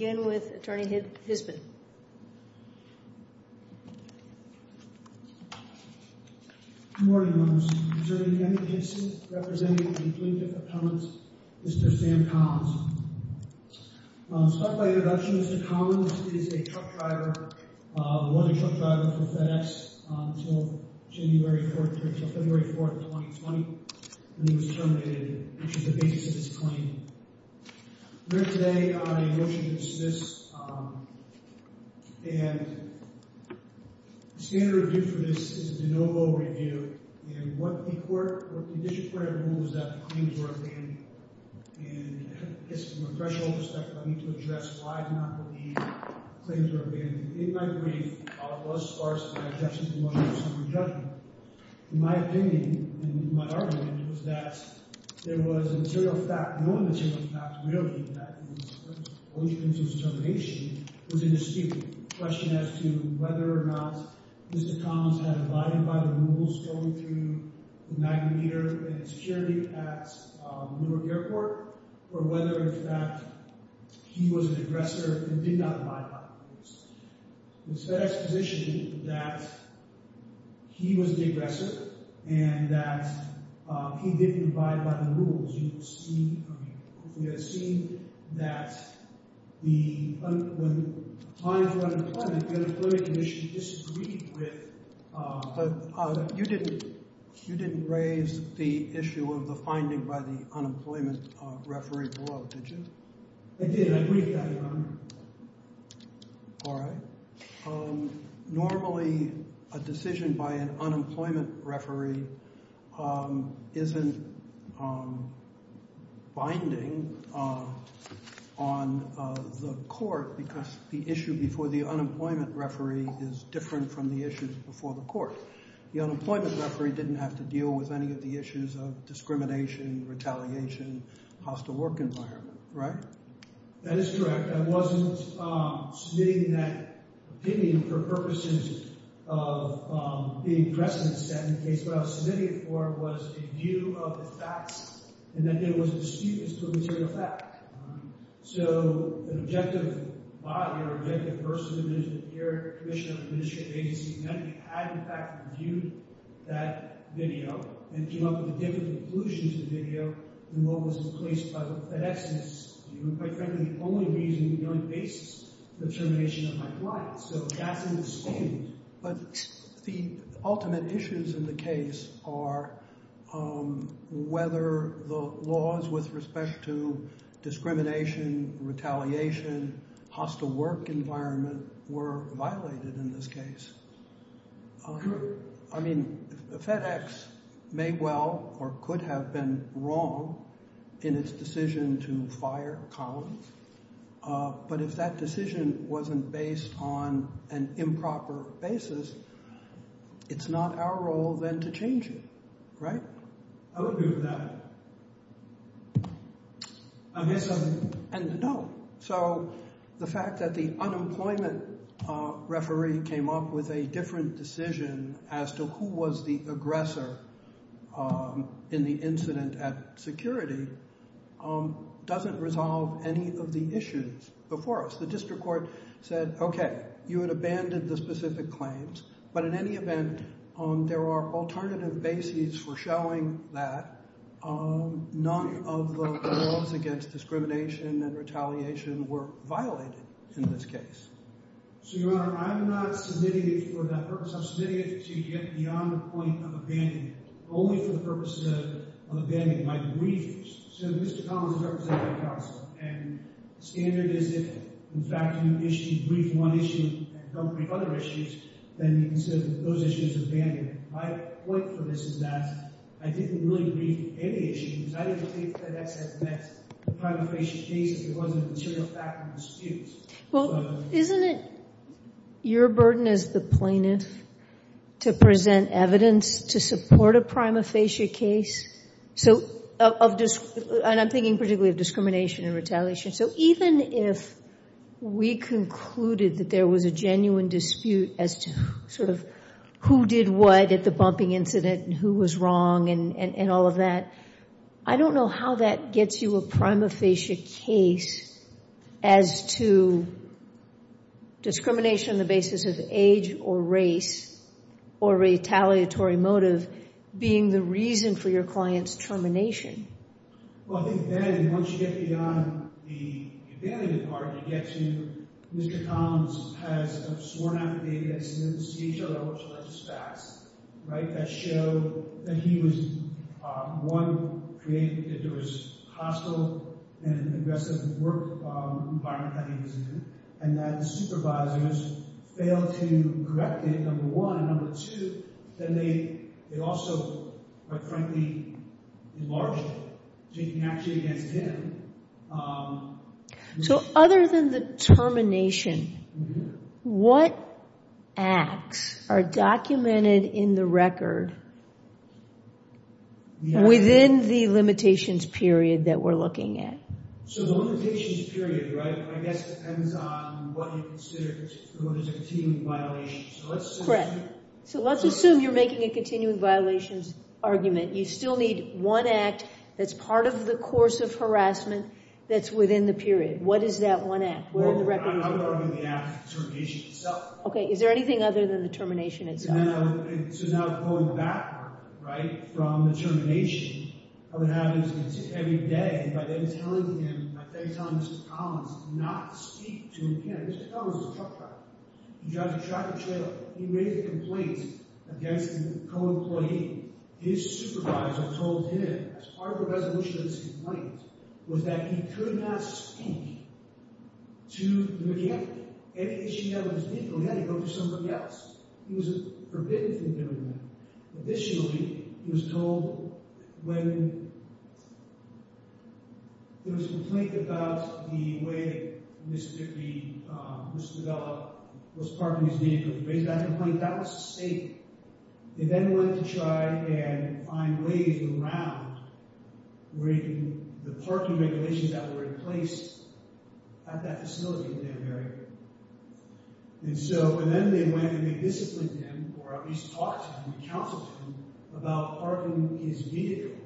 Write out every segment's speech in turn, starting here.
Attorney Hispan Good Morning Members I'm serving in the defendant's case representing the plaintiff's appellant Mr. Sam Collins. I'll start by introduction. Mr. Collins is a truck driver, was a truck driver for FedEx until February 4, 2020 when he was terminated, which is the basis of his claim. I'm here today on a motion to dismiss and the standard review for this is a de novo review and what the court, what the district court had ruled was that the claims were abandoned and I guess from a threshold perspective I need to address why I do not believe the claims were abandoned. In my brief, it was sparse in my objection to the motion of summary judgment. My opinion, my argument was that there was a material fact, known material fact, really that his motion to distermination was indisputable. The question as to whether or not Mr. Collins had abided by the rules going through the magnet meter and security at Newark Airport or whether in fact he was an aggressor and did not abide by the rules. It's FedEx's position that he was the aggressor and that he didn't abide by the rules. You've seen, I mean, we have seen that the, when it comes to unemployment, the Unemployment Commission disagreed with. But you didn't, you didn't raise the issue of the finding by the unemployment referee below, did you? I did, I briefed that, Your Honor. All right, normally a decision by an unemployment referee isn't binding on the court because the issue before the unemployment referee is different from the issues before the court. The unemployment referee didn't have to deal with any of the issues of discrimination, retaliation, hostile work environment, right? That is correct. I wasn't submitting that opinion for purposes of being precedent set in the case. What I was submitting it for was a view of the facts and that there was a dispute as to the material fact. So an objective body or an objective person is the Commissioner of the Administrative Agency and then we had in fact reviewed that video and came up with a different conclusion to the video than what was placed by the FedEx. And it's quite frankly the only reason we don't face the termination of my client. So that's in the state. But the ultimate issues in the case are whether the laws with respect to discrimination, retaliation, hostile work environment were violated in this case. I mean, the FedEx may well or could have been wrong in its decision to fire Collins. But if that decision wasn't based on an improper basis, it's not our role then to change it, right? I would agree with that. I guess I'm— And no. So the fact that the unemployment referee came up with a different decision as to who was the aggressor in the incident at security doesn't resolve any of the issues before us. The district court said, okay, you had abandoned the specific claims. But in any event, there are alternative bases for showing that none of the laws against discrimination and retaliation were violated in this case. So, Your Honor, I'm not submitting it for that purpose. I'm submitting it to get beyond the point of abandoning it, only for the purpose of abandoning my briefs. So Mr. Collins is representing counsel. And the standard is if, in fact, you issue—brief one issue and don't brief other issues, then you consider those issues abandoned. My point for this is that I didn't really brief any issues. I didn't think FedEx had met the prima facie case if it wasn't a material fact of dispute. Well, isn't it your burden as the plaintiff to present evidence to support a prima facie case? So—and I'm thinking particularly of discrimination and retaliation. So even if we concluded that there was a genuine dispute as to sort of who did what at the bumping incident and who was wrong and all of that, I don't know how that gets you a prima facie case as to discrimination on the basis of age or race or retaliatory motive being the reason for your client's termination. Well, I think then, once you get beyond the abandonment part, you get to—Mr. Collins has a sworn affidavit that says the CHRL was just facts, right? That showed that he was, one, created that there was hostile and aggressive work environment that he was in, and that the supervisors failed to correct it, number one. And number two, then they also, quite frankly, enlarged it, taking action against him. So other than the termination, what acts are documented in the record within the limitations period that we're looking at? So the limitations period, right, I guess depends on what you consider to be a continuing violation. Correct. So let's assume you're making a continuing violations argument. You still need one act that's part of the course of harassment that's within the period. What is that one act? Well, I'm arguing the act of termination itself. Okay. Is there anything other than the termination itself? No. So now going backward, right, from the termination, I would have him sit every day, and by then telling him—by then telling Mr. Collins to not speak to him again—Mr. Collins is a truck driver. He drives a truck trailer. He made a complaint against his co-employee. His supervisor told him, as part of a resolution of this complaint, was that he could not speak to the mechanic. Any issue he had with his vehicle, he had to go to someone else. He was forbidden from doing that. Additionally, he was told when there was a complaint about the way Mr. Dickey was developed, was parking his vehicle. He raised that complaint. That was safe. He then went to try and find ways around the parking regulations that were in place at that facility in that area. And so—and then they went and they disciplined him, or at least talked to him and counseled him about parking his vehicle,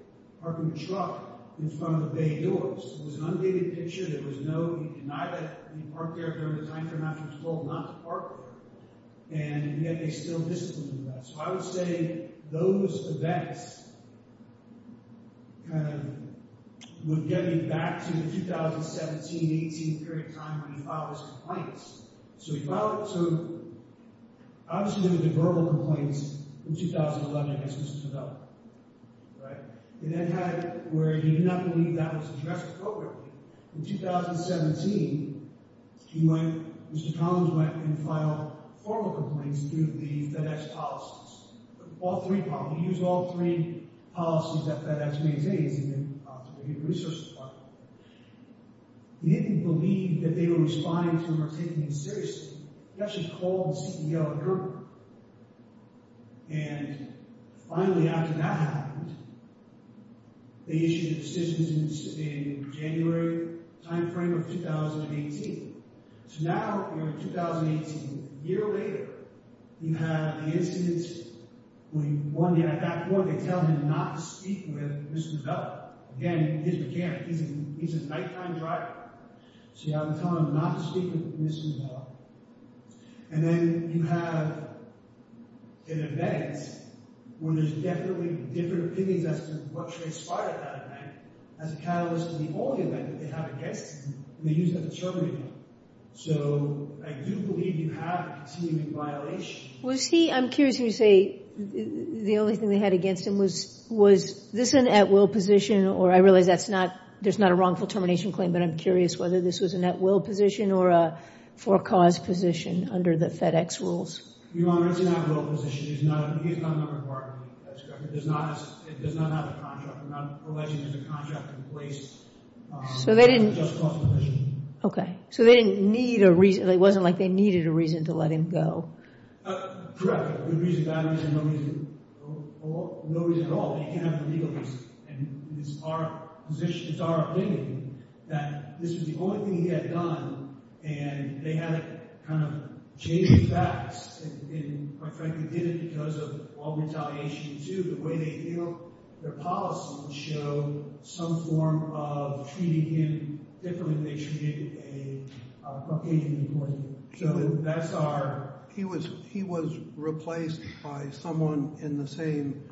parking the truck, in front of the bay doors. It was an undated picture. There was no—he denied it. He parked there during the time frame after he was told not to park there. And yet they still disciplined him about it. So I would say those events kind of would get me back to the 2017-18 period of time when he filed his complaints. So he filed—so, obviously, there were debarrable complaints in 2011 against Mr. Dickey, right? They then had—where he did not believe that was addressed appropriately, in 2017, he went—Mr. Collins went and filed formal complaints through the FedEx policies. All three, probably. He used all three policies that FedEx maintains, and then to the human resources department. He didn't believe that they were responding to him or taking him seriously. He actually called the CEO of Gerber. And finally, after that happened, they issued a decision in January, the time frame of 2018. So now, we're in 2018. A year later, you have the incident when one day, at that point, they tell him not to speak with Mr. Duvall. Again, he didn't care. He's a nighttime driver. So you have him tell him not to speak with Mr. Duvall. And then you have an event where there's definitely different opinions as to what transpired at that event, as a catalyst for the only event that they have against him, and they use that to terminate him. So I do believe you have a continuing violation. Was he—I'm curious when you say the only thing they had against him was—was this an at-will position? Or I realize that's not—there's not a wrongful termination claim, but I'm curious whether this was an at-will position or a for-cause position under the FedEx rules. Your Honor, it's an at-will position. He's not a member of our committee. That's correct. It does not have a contract. We're not alleging there's a contract in place. So they didn't— It's a just-cause position. Okay. So they didn't need a reason—it wasn't like they needed a reason to let him go. Correct. A good reason, bad reason, no reason. No reason at all. They can't have a legal reason. And it's our position, it's our opinion that this was the only thing he had done, and they had to kind of chase the facts and, quite frankly, did it because of all retaliation, too. The way they feel their policies show some form of treating him differently than they treated a Caucasian employee. So that's our— He was replaced by someone in the same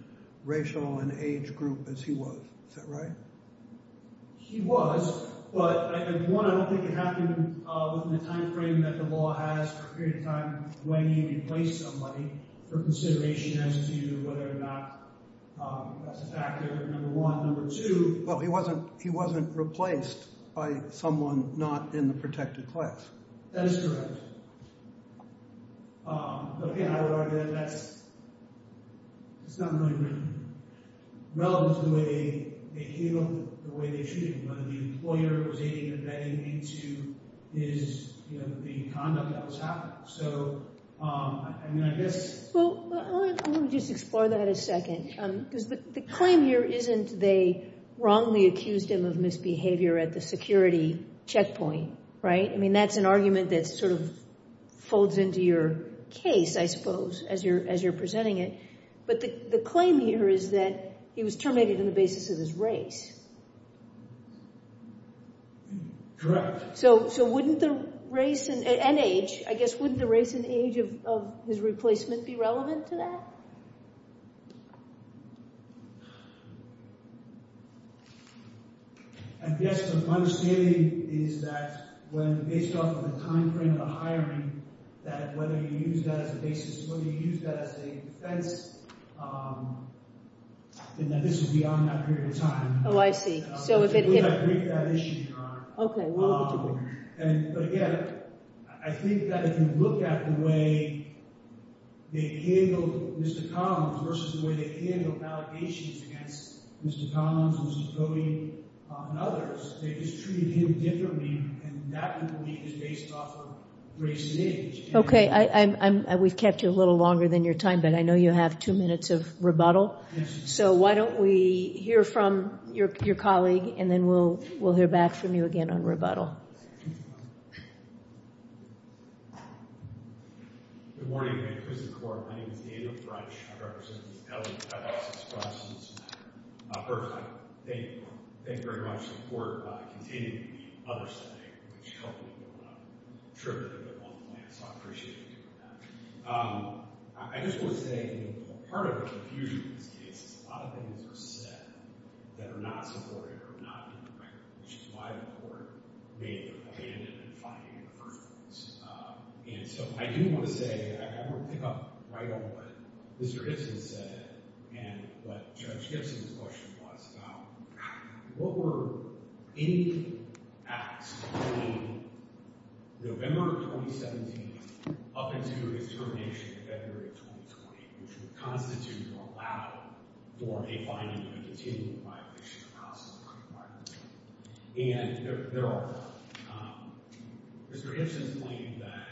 racial and age group as he was. Is that right? He was, but, one, I don't think it happened within the time frame that the law has for a period of time when you replace somebody for consideration as to whether or not that's a factor, number one. Number two— Well, he wasn't replaced by someone not in the protected class. That is correct. But, again, I would argue that that's not really relevant to the way they treat him, whether the employer was aiding or abetting him into his, you know, the conduct that was happening. So, I mean, I guess— Well, let me just explore that a second, because the claim here isn't they wrongly accused him of misbehavior at the security checkpoint, right? That's an argument that sort of folds into your case, I suppose, as you're presenting it. But the claim here is that he was terminated on the basis of his race. Correct. So wouldn't the race and age, I guess, wouldn't the race and age of his replacement be relevant to that? I guess my understanding is that when, based off of the time frame of the hiring, that whether you use that as a basis, whether you use that as a defense, then this is beyond that period of time. Oh, I see. So if it— We're not breaking that issue, Your Honor. Okay, well, we're doing it. But again, I think that if you look at the way they handled Mr. Collins versus the way they handled allegations against Mr. Collins and Mrs. Cody and others, they just treated him differently, and that, I believe, is based off of race and age. Okay, we've kept you a little longer than your time, but I know you have two minutes of rebuttal, so why don't we hear from your colleague, and then we'll hear back from you again on rebuttal. Thank you, Your Honor. Good morning, Vanquish the Court. My name is Daniel French. I represent Ms. Ellen Ellis of Spruance, Missoula. First, I thank the Court. Thank you very much. The Court continued the other setting, which helped me with my trip to the other one plan, so I appreciate you doing that. I just want to say, you know, part of the confusion in this case is a lot of things are said that are not supported or not in the record, which is why the Court may have been finding in the first place. And so I do want to say, I want to pick up right on what Mr. Gibson said and what Judge Gibson's question was about, what were any acts between November of 2017 up until his termination in February of 2020, which would constitute or allow for a finding of a continued violation of House Law and Court of Arbitration? And there are. Mr. Gibson's claim that,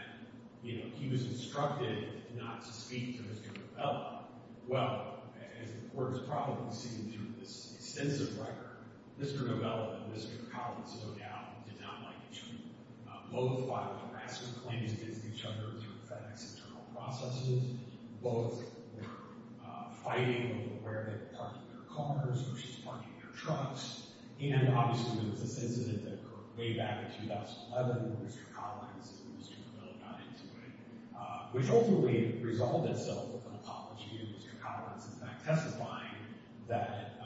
you know, he was instructed not to speak to Mr. Novella. Well, as the Court has probably seen through this extensive record, Mr. Novella and Mr. Collins, no doubt, did not like each other. Both filed harassment claims against each other through FedEx internal processes. Both were fighting over where they were parking their cars, who should be parking their trucks. And obviously, there was this incident that occurred way back in 2011 where Mr. Collins and Mr. Novella got into it, which ultimately resolved itself with an apology and Mr. Collins, in fact, testifying that,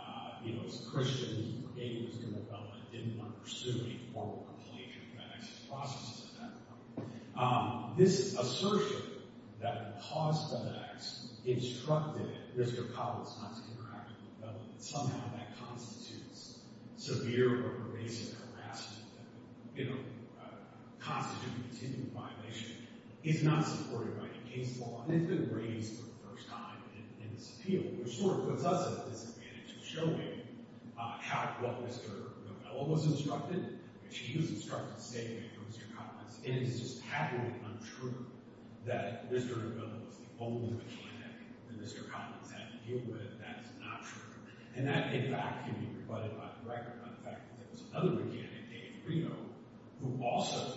you know, as a Christian, he forgave Mr. Novella and didn't want to pursue a formal complaint through FedEx's processes at that point. This assertion that a hostile FedEx instructed Mr. Collins not to interact with Novella, somehow that constitutes severe or pervasive harassment, you know, constituting a continued violation, is not supported by the case law, and it's been raised for the first time in this appeal, which sort of puts us at a disadvantage of showing what Mr. Novella was instructed, which he was instructed to say to Mr. Collins, and it is just haphazardly untrue that Mr. Novella was the only mechanic that Mr. Collins had to deal with. That is not true. And that, in fact, can be rebutted by the record by the fact that there was another mechanic, Dave Reno, who also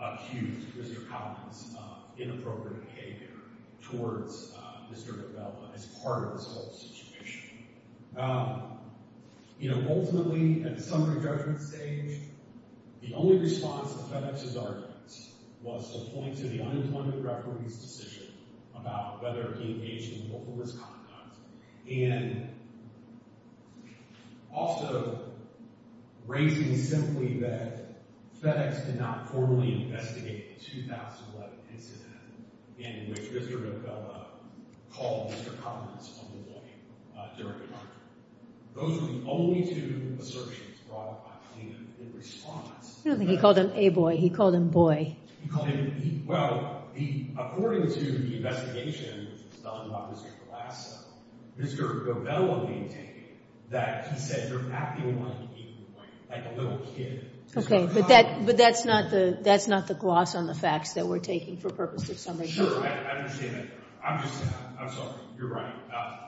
accused Mr. Collins of inappropriate behavior towards Mr. Novella as part of this whole situation. Now, you know, ultimately, at the summary judgment stage, the only response to FedEx's arguments was to point to the unemployment report's decision about whether he engaged in vulnerable misconduct, and also raising simply that FedEx did not formally investigate a 2011 incident in which Mr. Novella called Mr. Collins a boy during the murder. Those were the only two assertions brought by the team in response. I don't think he called him a boy. He called him boy. Well, according to the investigation done by Mr. Colasso, Mr. Novella maintained that he said you're acting like a little kid. Okay, but that's not the gloss on the facts that we're taking for purpose of summary judgment. Sure, I understand that. I'm just, I'm sorry, you're right.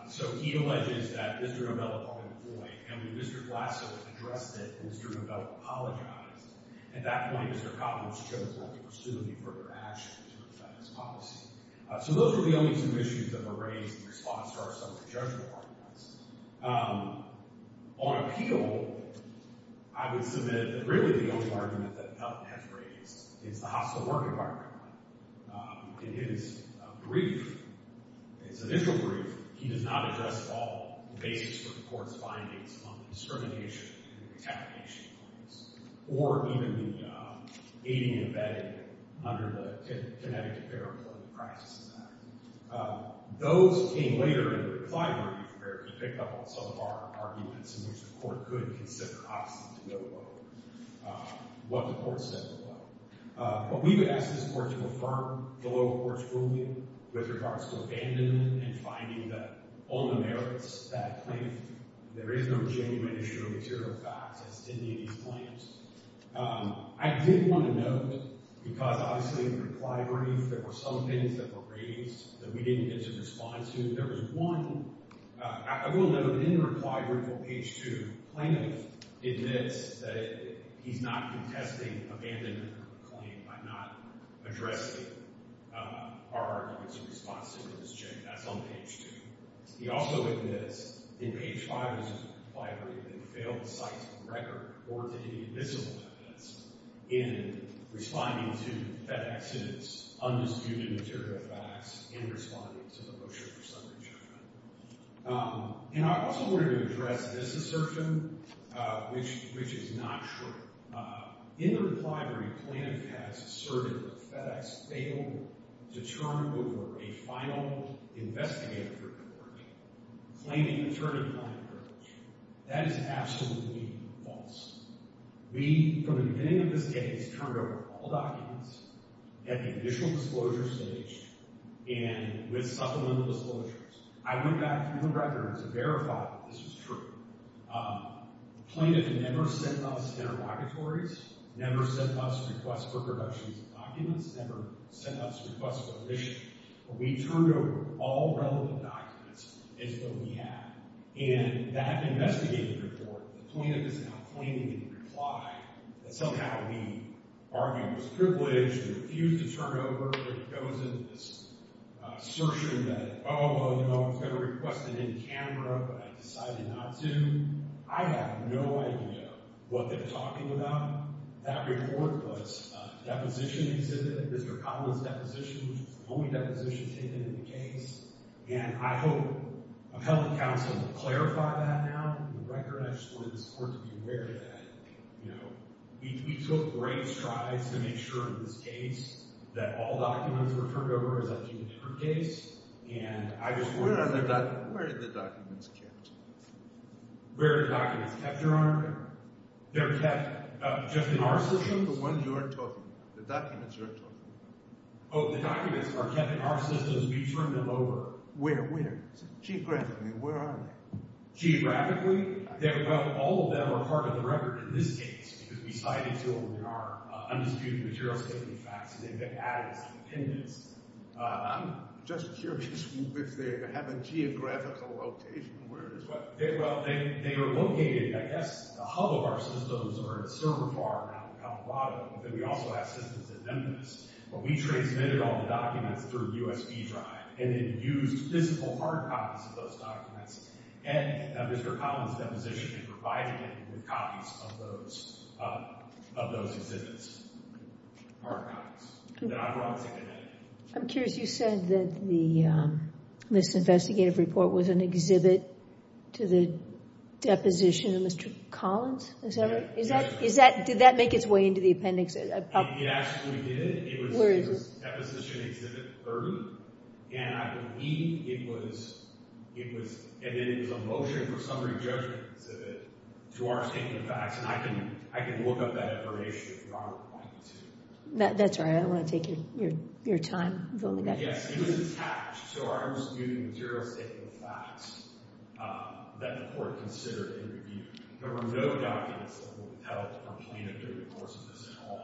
So he alleges that Mr. Novella called him a boy, and when Mr. Colasso addressed it, Mr. Novella apologized. At that point, Mr. Collins chose not to pursue any further action to defend his policy. So those are the only two issues that were raised in response to our summary judgment arguments. On appeal, I would submit that really the only argument that Felton has raised is the hostile work environment. In his brief, his initial brief, he does not address at all the basis for the court's findings on the discrimination and the retaliation claims, or even the aiding and abetting under the Connecticut Fair Employment Practices Act. Those came later in the reply brief where he picked up on some of our arguments in which the court could consider, obviously, to go low, what the court said to go low. But we would ask this court to affirm the lower court's ruling with regards to abandonment and finding that on the merits that claim, there is no genuine issue of material facts as to any of these claims. I did want to note, because obviously in the reply brief, there were some things that were raised that we didn't get to respond to. There was one, I will note that in the reply brief on page two, Planov admits that he's not contesting abandonment claim by not addressing our arguments in response to this check. That's on page two. He also admits in page five of his reply brief that he failed to cite a record or to any of the missing evidence in responding to FedEx's undisputed material facts in responding to the motion for summary judgment. And I also wanted to address this assertion, which is not true. In the reply brief, Planov has asserted that FedEx failed to turn over a final investigative report, claiming attorney behind the records. That is absolutely false. We, from the beginning of this case, turned over all documents at the initial disclosure stage and with supplemental disclosures. I went back through the records to verify that this was true. Planov never sent us interrogatories, never sent us requests for productions of documents, never sent us requests for submissions. We turned over all relevant documents as though we had. And that investigative report, Planov is now claiming in the reply that somehow we argued it was privileged, we refused to turn it over. It goes into this assertion that, oh, well, you know, I was going to request it in camera, but I decided not to. I have no idea what they're talking about. That report was a deposition exhibit, Mr. Collins' deposition, which was the only deposition taken in the case. And I hope appellate counsel will clarify that now, the record. I just wanted the court to be aware that, you know, we took great strides to make sure in this case that all documents were turned over, as I've seen in her case. And I just want to say that. Where are the documents kept? Where are the documents kept, Your Honor? They're kept just in our systems? The one you are talking about, the documents you are talking about. Oh, the documents are kept in our systems. We turn them over. Where, where? Geographically, where are they? Geographically? All of them are part of the record in this case, because we cited two of them. They are undisputed material safety facts. They've been added as dependents. I'm just curious if they have a geographical location where it is. Well, they are located, I guess, the hub of our systems are at Cerro Bar, out in Colorado, but then we also have systems in Memphis. But we transmitted all the documents through USB drive, and then used physical hard copies of those documents. And Mr. Collins' deposition provided him with copies of those, of those exhibits. Hard copies. I'm curious, you said that the, this investigative report was an exhibit to the deposition of Mr. Collins, is that right? Is that, is that, did that make its way into the appendix? It actually did. It was, it was deposition exhibit 30. And I believe it was, it was, and then it was a motion for summary judgment exhibit to our safety facts. And I can, I can look up that information if you want to. That's all right. I don't want to take your, your, your time. Yes, it was attached to our undisputed material safety facts that the court considered and reviewed. There were no documents that were held for plaintiff due recourse to this at all.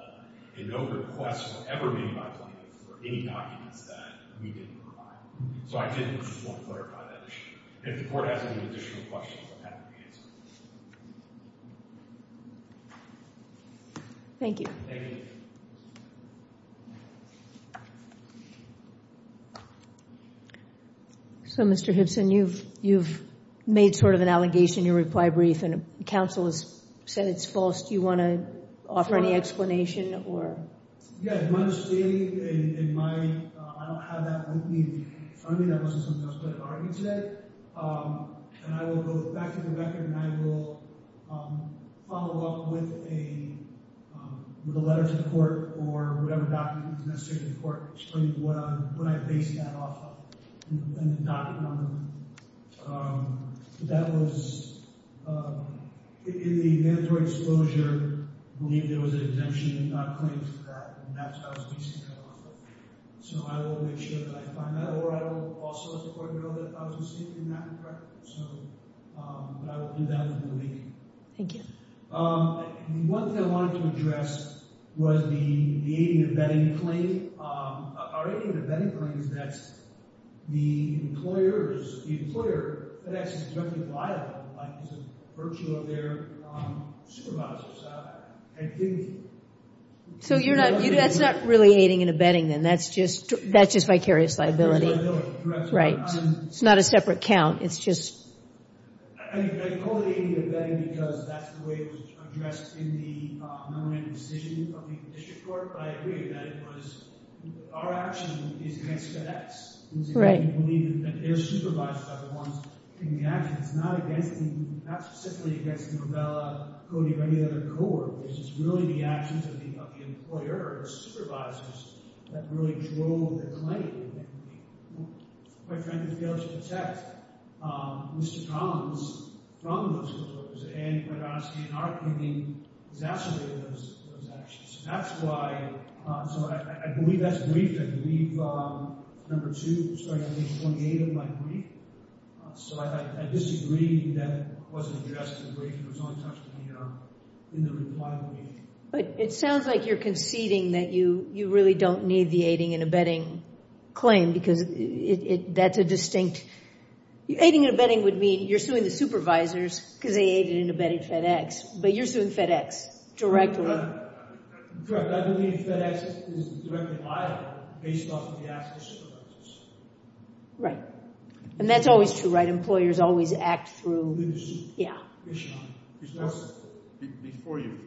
And no requests were ever made by plaintiffs for any documents that we didn't provide. So I did just want to clarify that issue. If the court has any additional questions, I'm happy to answer them. Thank you. So Mr. Hibson, you've, you've made sort of an allegation, your reply brief, and counsel has said it's false. Do you want to offer any explanation or? Yeah, it might have stated, it might, I don't have that with me. For me, that wasn't something I was going to argue today. And I will go back to the record and I will follow up with a, with a letter to the court or whatever documents necessary to the court explaining what I, what I based that off of and the document on the roof. Um, that was, um, in the mandatory exposure, I believe there was an exemption not claimed for that and that's how I was basing that off of. So I will make sure that I find that or I will also let the court know that I was receiving that, correct? So, um, but I will do that in a week. Thank you. Um, one thing I wanted to address was the, the aiding and abetting claim. Um, our aiding and abetting claim is that the employers, the employer, that actually is directly liable by the virtue of their, um, supervisors. So you're not, that's not really aiding and abetting then, that's just, that's just vicarious liability. It's not a separate count, it's just. I mean, I call it aiding and abetting because that's the way it was addressed in the, um, non-random decision of the district court. But I agree that it was, our action is against FedEx. Right. We believe that their supervisors are the ones taking the action. It's not against the, not specifically against Novella, Cody, or any other cohort. It's just really the actions of the, of the employer or the supervisors that really drove the claim. Quite frankly, failed to protect, um, Mr. Collins from those closures. And quite honestly, in our opinion, exacerbated those, those actions. That's why, um, so I, I believe that's briefed. I believe, um, number two, starting on page 28 of my brief. So I, I disagree that it wasn't addressed in the brief. It was only touched in the, um, in the reply to the meeting. But it sounds like you're conceding that you, you really don't need the aiding and abetting claim because it, it, that's a distinct, aiding and abetting would mean you're suing the supervisors because they aided and abetted FedEx, but you're suing FedEx directly. Correct. I believe FedEx is directly liable based off of the actions of supervisors. Right. And that's always true, right? Employers always act through, yeah. Before you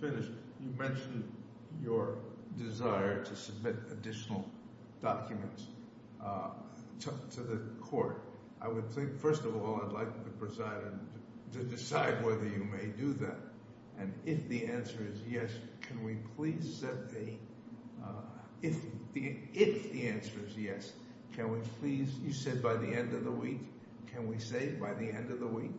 finish, you mentioned your desire to submit additional documents, uh, to the court. I would think, first of all, I'd like the president to decide whether you may do that. And if the answer is yes, can we please set the, uh, if the, if the answer is yes, can we please, you said by the end of the week, can we say by the end of the week?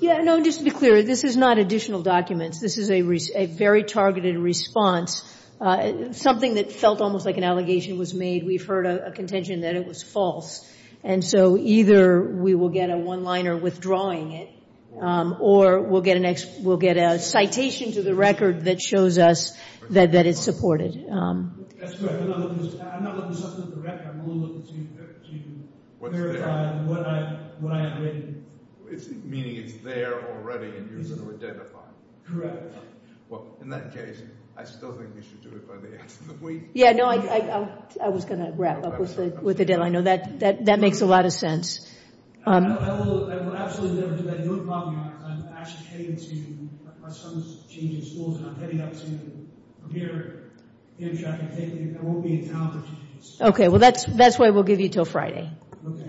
Yeah, no, just to be clear, this is not additional documents. This is a, a very targeted response, uh, something that felt almost like an allegation was made. We've heard a contention that it was false. And so either we will get a one-liner withdrawing it, um, or we'll get a next, we'll get a citation to the record that shows us that, that it's supported. I'm not looking to submit the record, I'm looking to verify what I, what I admitted. Meaning it's there already and you're going to identify it. Well, in that case, I still think we should do it by the end of the week. Yeah, no, I, I, I was going to wrap up with the, with the deadline. I know that, that, that makes a lot of sense. Okay, well, that's, that's why we'll give you until Friday,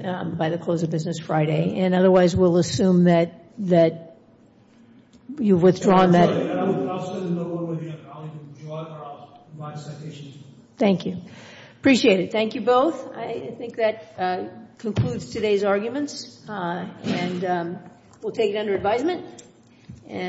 um, by the close of business and otherwise we'll assume that, that you've withdrawn that. Thank you. Appreciate it. Thank you both. I think that, uh, concludes today's arguments, uh, and, um, we'll take it under advisement and